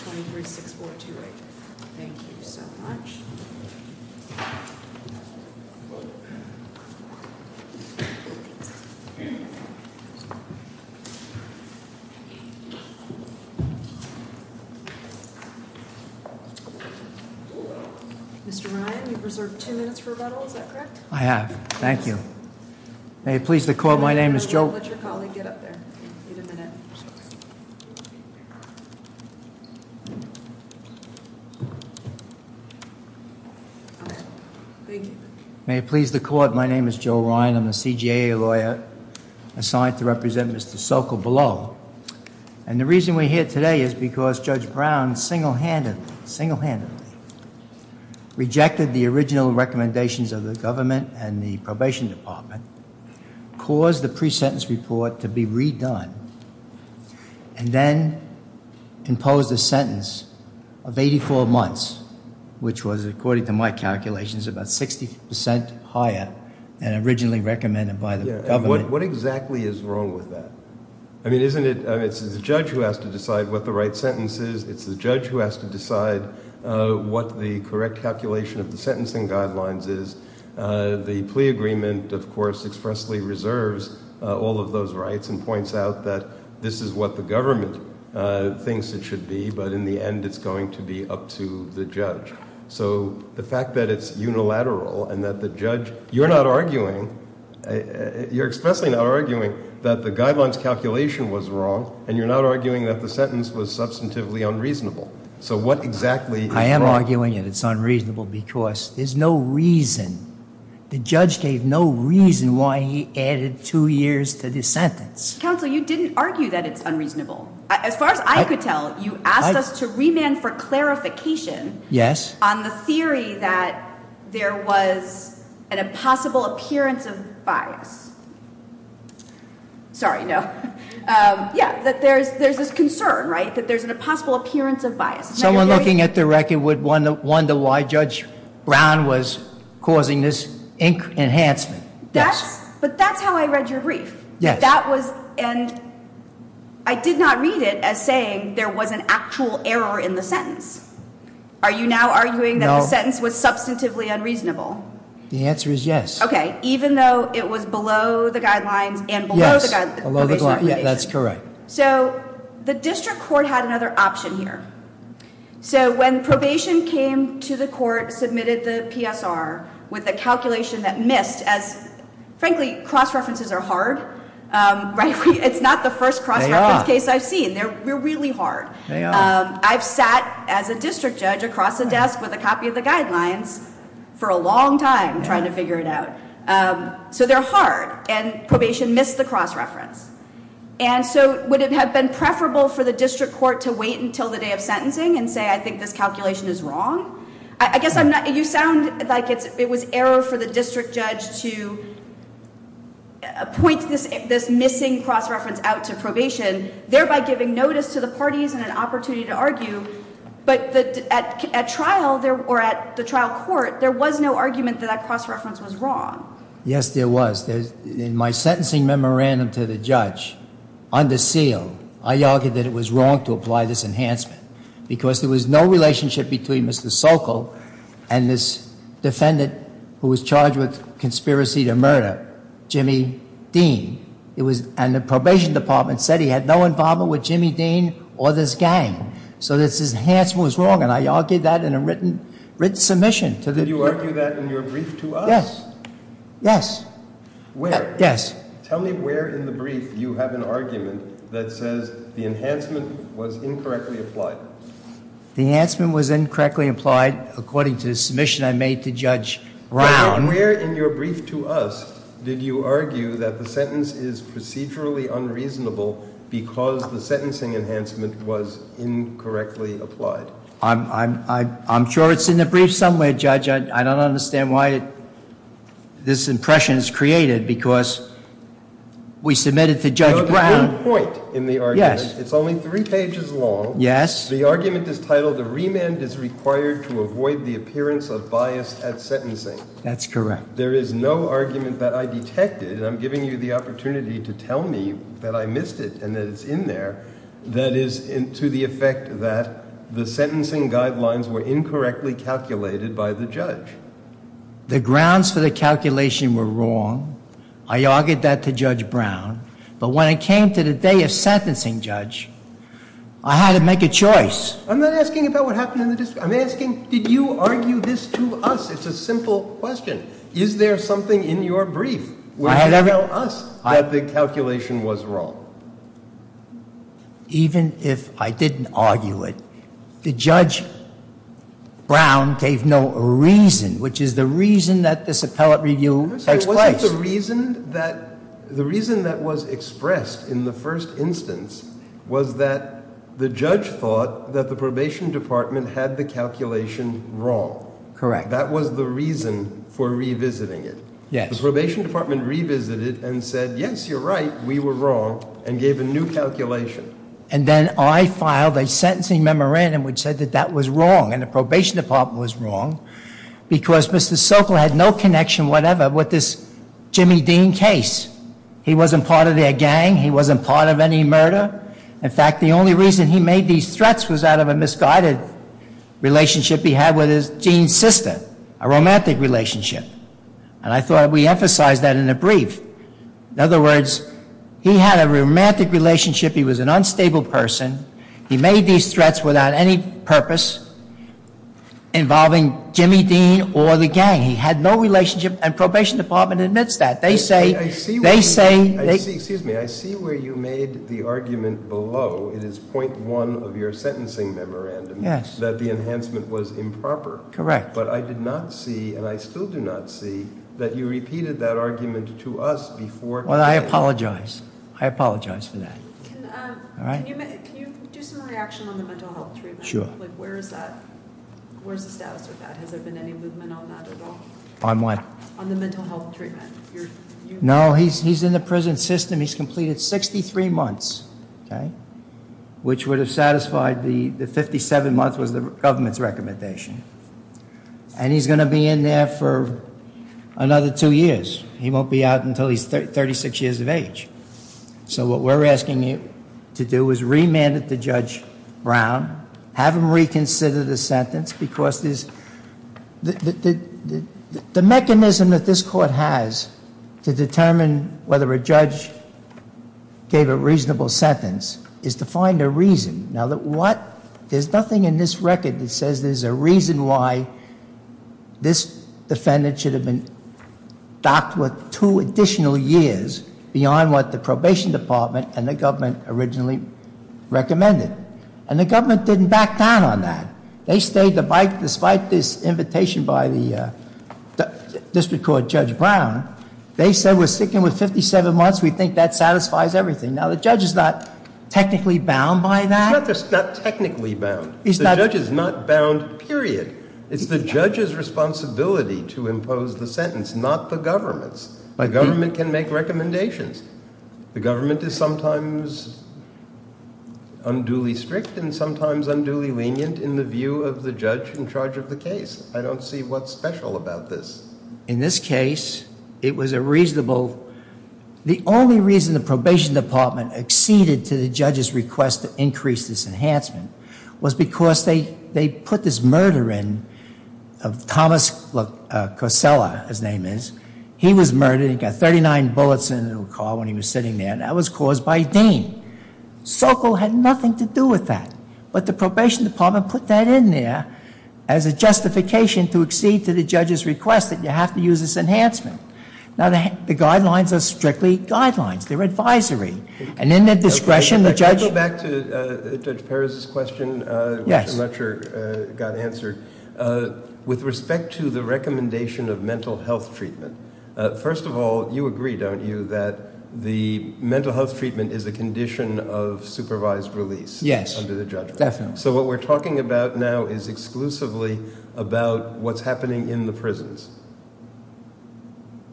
23-6-4-2-8. Thank you so much. Mr. Ryan, you've reserved two minutes for rebuttal. Is that correct? I have. Thank you. May it please the court, my name is Joe. Let your colleague get up there. Wait a minute. May it please the court, my name is Joe Ryan. I'm a CJA lawyer assigned to represent Mr. Sokol below. And the reason we're here today is because Judge Brown single-handedly, single-handedly rejected the original recommendations of the government and the probation department, caused the pre-sentence report to be redone, and then imposed a sentence of 84 months, which was, according to my calculations, about 60% higher than originally recommended by the government. What exactly is wrong with that? I mean, isn't it, it's the judge who has to decide what the right sentence is, it's the judge who has to decide what the correct calculation of the sentencing guidelines is. The plea agreement, of course, expressly reserves all of those rights and points out that this is what the government thinks it should be, but in the end it's going to be up to the judge. So the fact that it's unilateral and that the judge, you're not arguing, you're expressly not arguing that the guidelines calculation was wrong, and you're not arguing that the sentence was substantively unreasonable. So what exactly is wrong? I am arguing that it's unreasonable because there's no reason, the judge gave no reason why he added two years to the sentence. Counsel, you didn't argue that it's unreasonable. As far as I could tell, you asked us to remand for clarification on the theory that there was an impossible appearance of bias. Sorry, no. Yeah, that there's this concern, right, that there's an impossible appearance of bias. Someone looking at the record would wonder why Judge Brown was causing this enhancement. That's, but that's how I read your brief. That was, and I did not read it as saying there was an actual error in the sentence. Are you now arguing that the sentence was substantively unreasonable? The answer is yes. Okay, even though it was below the guidelines and below the guidance. Yes, below the guidelines, that's correct. So the district court had another option here. So when probation came to the court, submitted the PSR with a calculation that missed as, frankly, cross-references are hard, right? It's not the first cross-reference case I've seen. They're really hard. I've sat as a district judge across the desk with a copy of the guidelines for a long time trying to figure it out. So they're hard, and probation missed the cross-reference. And so would it have been preferable for the district court to wait until the day of sentencing and say, I think this calculation is wrong? I guess I'm not, you sound like it was error for the district judge to point this missing cross-reference out to probation, thereby giving notice to the parties and an opportunity to argue. But at trial, or at the trial court, there was no argument that that cross-reference was wrong. Yes, there was. In my sentencing memorandum to the judge, under seal, I argued that it was wrong to apply this enhancement because there was no relationship between Mr. Sokol and this defendant who was charged with conspiracy to murder, Jimmy Dean. And the probation department said he had no involvement with Jimmy Dean or this gang. So this enhancement was wrong, and I argued that in a written submission. Did you argue that in your brief to us? Yes, yes. Where? Yes. Tell me where in the brief you have an argument that says the enhancement was incorrectly applied. The enhancement was incorrectly applied according to the submission I made to Judge Brown. Where in your brief to us did you argue that the sentence is procedurally unreasonable because the sentencing enhancement was incorrectly applied? I'm sure it's in the brief somewhere, Judge. I don't understand why this impression is created, because we submitted to Judge Brown. There's a good point in the argument. Yes. It's only three pages long. Yes. The argument is titled, the remand is required to avoid the appearance of bias at sentencing. That's correct. There is no argument that I detected, and I'm giving you the opportunity to tell me that I missed it and that it's in there, that is to the effect that the sentencing guidelines were incorrectly calculated by the judge. The grounds for the calculation were wrong. I argued that to Judge Brown, but when it came to the day of sentencing, Judge, I had to make a choice. I'm not asking about what happened in the district. I'm asking, did you argue this to us? It's a simple question. Is there something in your brief that tells us that the calculation was wrong? Even if I didn't argue it, Judge Brown gave no reason, which is the reason that this appellate review takes place. Was it the reason that was expressed in the first instance was that the judge thought that the probation department had the calculation wrong? Correct. That was the reason for revisiting it. Yes. The probation department revisited and said, yes, you're right, we were wrong, and gave a new calculation. And then I filed a sentencing memorandum which said that that was wrong, and the probation department was wrong, because Mr. Sokol had no connection whatever with this Jimmy Dean case. He wasn't part of their gang. He wasn't part of any murder. In fact, the only reason he made these threats was out of a misguided relationship he had with his dean sister, a romantic relationship. And I thought we emphasized that in the brief. In other words, he had a romantic relationship. He was an unstable person. He made these threats without any purpose involving Jimmy Dean or the gang. He had no relationship, and probation department admits that. They say- Excuse me, I see where you made the argument below. It is point one of your sentencing memorandum. Yes. That the enhancement was improper. Correct. But I did not see, and I still do not see, that you repeated that argument to us before- Well, I apologize. I apologize for that. Can you do some reaction on the mental health treatment? Sure. Where's the status of that? Has there been any movement on that at all? On what? On the mental health treatment. No, he's in the prison system. He's completed 63 months, which would have satisfied the 57 months was the government's recommendation. And he's going to be in there for another two years. He won't be out until he's 36 years of age. So what we're asking you to do is remand it to Judge Brown, have him reconsider the sentence, because the mechanism that this court has to determine whether a judge gave a reasonable sentence is to find a reason. Now, there's nothing in this record that says there's a reason why this defendant should have been docked with two additional years beyond what the probation department and the government originally recommended. And the government didn't back down on that. They stayed the bike despite this invitation by the district court Judge Brown. They said we're sticking with 57 months. We think that satisfies everything. Now, the judge is not technically bound by that. He's not technically bound. The judge is not bound, period. It's the judge's responsibility to impose the sentence, not the government's. The government can make recommendations. The government is sometimes unduly strict and sometimes unduly lenient in the view of the judge in charge of the case. I don't see what's special about this. In this case, it was a reasonable. The only reason the probation department acceded to the judge's request to increase this enhancement was because they put this murder in of Thomas Cosella, his name is. He was murdered. He got 39 bullets in his car when he was sitting there, and that was caused by Dean. Sokol had nothing to do with that. But the probation department put that in there as a justification to accede to the judge's request that you have to use this enhancement. Now, the guidelines are strictly guidelines. They're advisory. And in their discretion, the judge— Can I go back to Judge Perez's question? Yes. I'm not sure it got answered. With respect to the recommendation of mental health treatment, first of all, you agree, don't you, that the mental health treatment is a condition of supervised release? Yes. Under the judgment. So what we're talking about now is exclusively about what's happening in the prisons.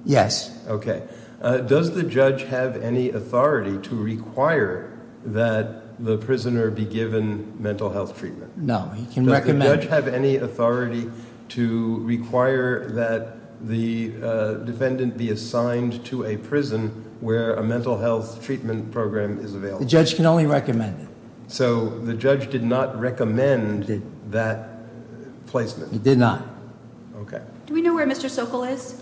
Yes. Okay. Does the judge have any authority to require that the prisoner be given mental health treatment? No. He can recommend— Does the judge have any authority to require that the defendant be assigned to a prison where a mental health treatment program is available? The judge can only recommend it. So the judge did not recommend that placement? He did not. Okay. Do we know where Mr. Sokol is?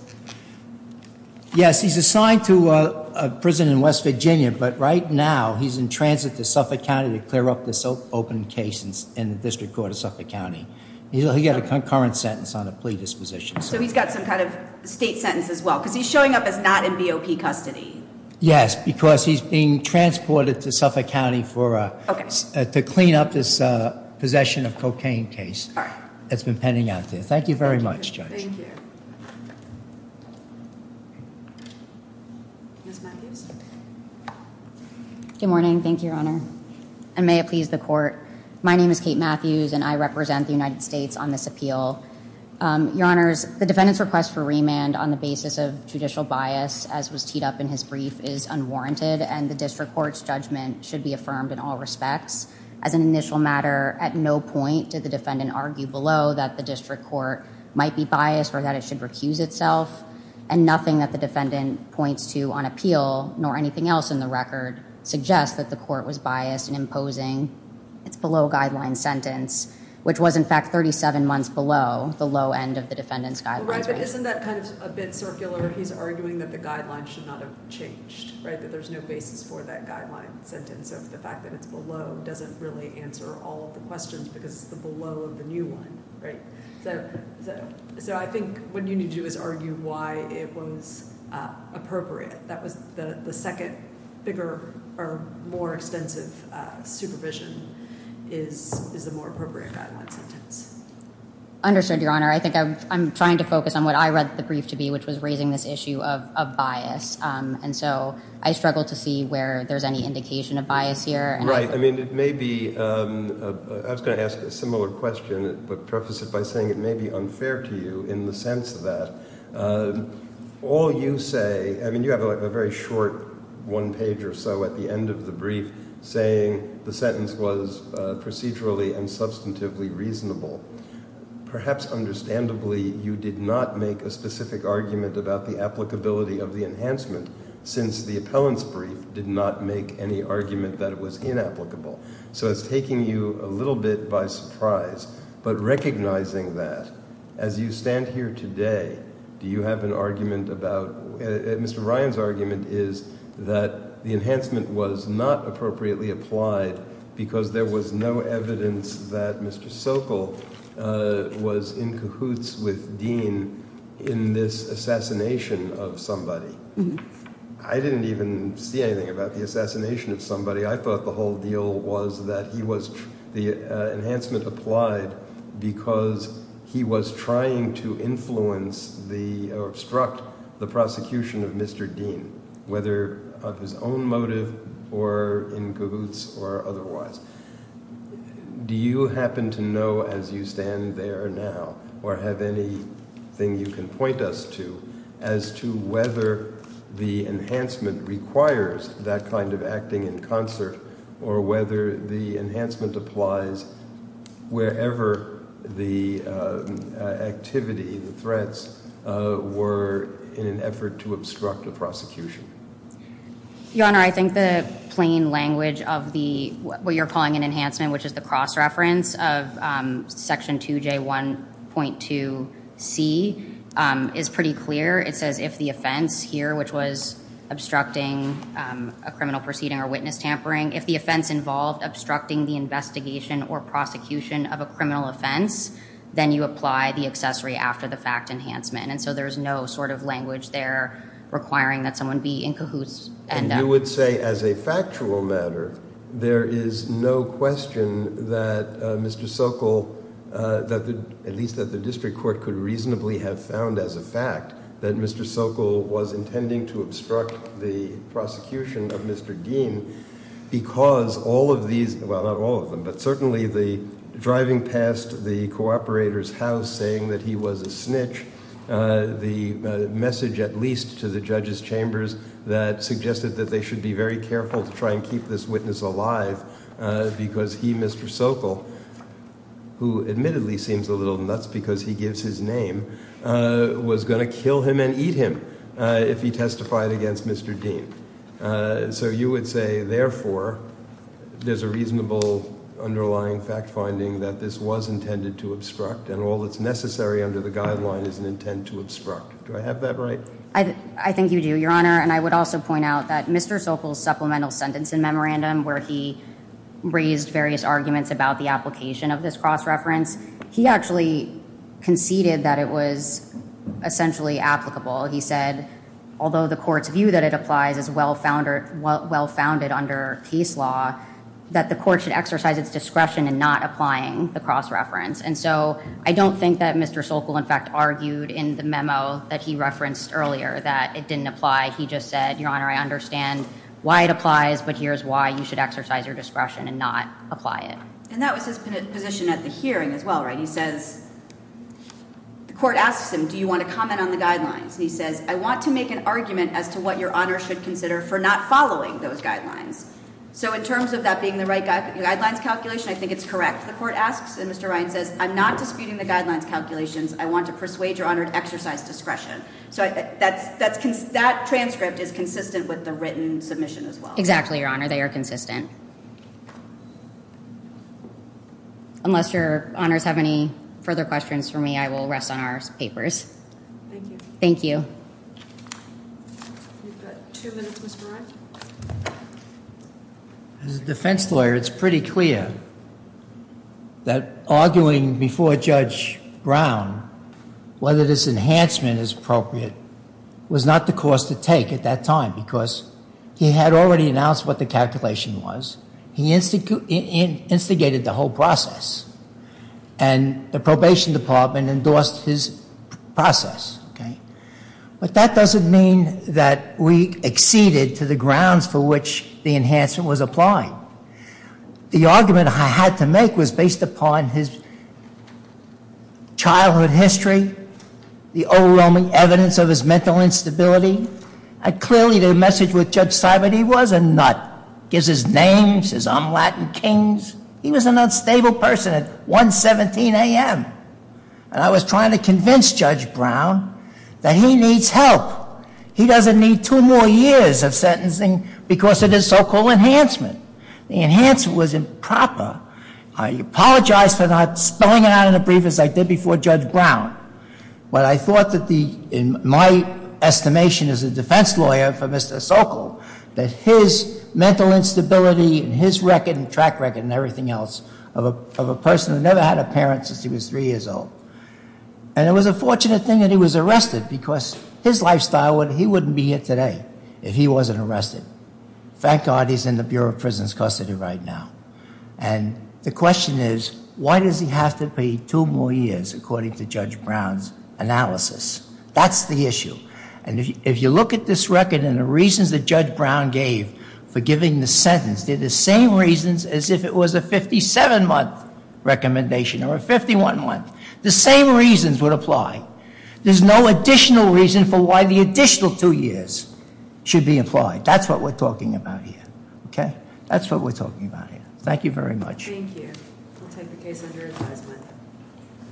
Yes. He's assigned to a prison in West Virginia, but right now he's in transit to Suffolk County to clear up this open case in the District Court of Suffolk County. He's got a concurrent sentence on a plea disposition. So he's got some kind of state sentence as well, because he's showing up as not in BOP custody. Yes, because he's being transported to Suffolk County to clean up this possession of cocaine case that's been pending out there. Thank you very much, Judge. Thank you. Ms. Matthews? Good morning. Thank you, Your Honor. And may it please the Court. My name is Kate Matthews, and I represent the United States on this appeal. Your Honors, the defendant's request for remand on the basis of judicial bias, as was teed up in his brief, is unwarranted, and the District Court's judgment should be affirmed in all respects. As an initial matter, at no point did the defendant argue below that the District Court might be biased or that it should recuse itself. And nothing that the defendant points to on appeal, nor anything else in the record, suggests that the court was biased in imposing its below-guideline sentence, which was, in fact, 37 months below the low end of the defendant's guideline. Isn't that kind of a bit circular? He's arguing that the guideline should not have changed, right? That there's no basis for that guideline sentence, so the fact that it's below doesn't really answer all of the questions because it's below the new one, right? So I think what you need to do is argue why it was appropriate. The second, bigger, or more extensive supervision is the more appropriate guideline sentence. Understood, Your Honor. I think I'm trying to focus on what I read the brief to be, which was raising this issue of bias. And so I struggle to see where there's any indication of bias here. I mean, it may be – I was going to ask a similar question but preface it by saying it may be unfair to you in the sense that all you say – I mean, you have a very short one page or so at the end of the brief saying the sentence was procedurally and substantively reasonable. Perhaps understandably, you did not make a specific argument about the applicability of the enhancement since the appellant's brief did not make any argument that it was inapplicable. So it's taking you a little bit by surprise, but recognizing that, as you stand here today, do you have an argument about – Mr. Ryan's argument is that the enhancement was not appropriately applied because there was no evidence that Mr. Sokol was in cahoots with Dean in this assassination of somebody. I didn't even see anything about the assassination of somebody. I thought the whole deal was that he was – the enhancement applied because he was trying to influence the – or obstruct the prosecution of Mr. Dean, whether of his own motive or in cahoots or otherwise. Do you happen to know, as you stand there now, or have anything you can point us to, as to whether the enhancement requires that kind of acting in concert or whether the enhancement applies wherever the activity, the threats, were in an effort to obstruct a prosecution? Your Honor, I think the plain language of the – what you're calling an enhancement, which is the cross-reference of Section 2J1.2c, is pretty clear. It says if the offense here, which was obstructing a criminal proceeding or witness tampering, if the offense involved obstructing the investigation or prosecution of a criminal offense, then you apply the accessory after the fact enhancement. And so there's no sort of language there requiring that someone be in cahoots. And you would say as a factual matter there is no question that Mr. Sokol – at least that the district court could reasonably have found as a fact that Mr. Sokol was intending to obstruct the prosecution of Mr. Dean because all of these – well, not all of them, but certainly the driving past the cooperator's house saying that he was a snitch, the message at least to the judge's chambers that suggested that they should be very careful to try and keep this witness alive because he, Mr. Sokol, who admittedly seems a little nuts because he gives his name, was going to kill him and eat him if he testified against Mr. Dean. So you would say therefore there's a reasonable underlying fact finding that this was intended to obstruct and all that's necessary under the guideline is an intent to obstruct. Do I have that right? I think you do, Your Honor. And I would also point out that Mr. Sokol's supplemental sentence in memorandum where he raised various arguments about the application of this cross-reference, he actually conceded that it was essentially applicable. He said, although the court's view that it applies is well-founded under case law, that the court should exercise its discretion in not applying the cross-reference. And so I don't think that Mr. Sokol in fact argued in the memo that he referenced earlier that it didn't apply. He just said, Your Honor, I understand why it applies, but here's why you should exercise your discretion and not apply it. And that was his position at the hearing as well, right? He says, the court asks him, do you want to comment on the guidelines? And he says, I want to make an argument as to what Your Honor should consider for not following those guidelines. So in terms of that being the right guidelines calculation, I think it's correct. The court asks, and Mr. Ryan says, I'm not disputing the guidelines calculations. I want to persuade Your Honor to exercise discretion. So that transcript is consistent with the written submission as well. Exactly, Your Honor, they are consistent. Unless Your Honors have any further questions for me, I will rest on our papers. Thank you. Thank you. We've got two minutes, Mr. Ryan. As a defense lawyer, it's pretty clear that arguing before Judge Brown whether this enhancement is appropriate was not the course to take at that time because he had already announced what the calculation was. He instigated the whole process. And the probation department endorsed his process. But that doesn't mean that we acceded to the grounds for which the enhancement was applied. The argument I had to make was based upon his childhood history, the overwhelming evidence of his mental instability. I clearly did a message with Judge Sibert. He was a nut. Gives his names, his Omelette and Kings. He was an unstable person at 1.17 a.m. And I was trying to convince Judge Brown that he needs help. He doesn't need two more years of sentencing because of this so-called enhancement. The enhancement was improper. I apologize for not spelling it out in a brief as I did before Judge Brown. But I thought that the, in my estimation as a defense lawyer for Mr. Sokol, that his mental instability and his record and track record and everything else of a person who never had a parent since he was three years old. And it was a fortunate thing that he was arrested because his lifestyle, he wouldn't be here today if he wasn't arrested. Thank God he's in the Bureau of Prison's custody right now. And the question is, why does he have to pay two more years according to Judge Brown's analysis? That's the issue. And if you look at this record and the reasons that Judge Brown gave for giving the sentence, they're the same reasons as if it was a 57-month recommendation or a 51-month. The same reasons would apply. There's no additional reason for why the additional two years should be applied. That's what we're talking about here. Okay? That's what we're talking about here. Thank you very much.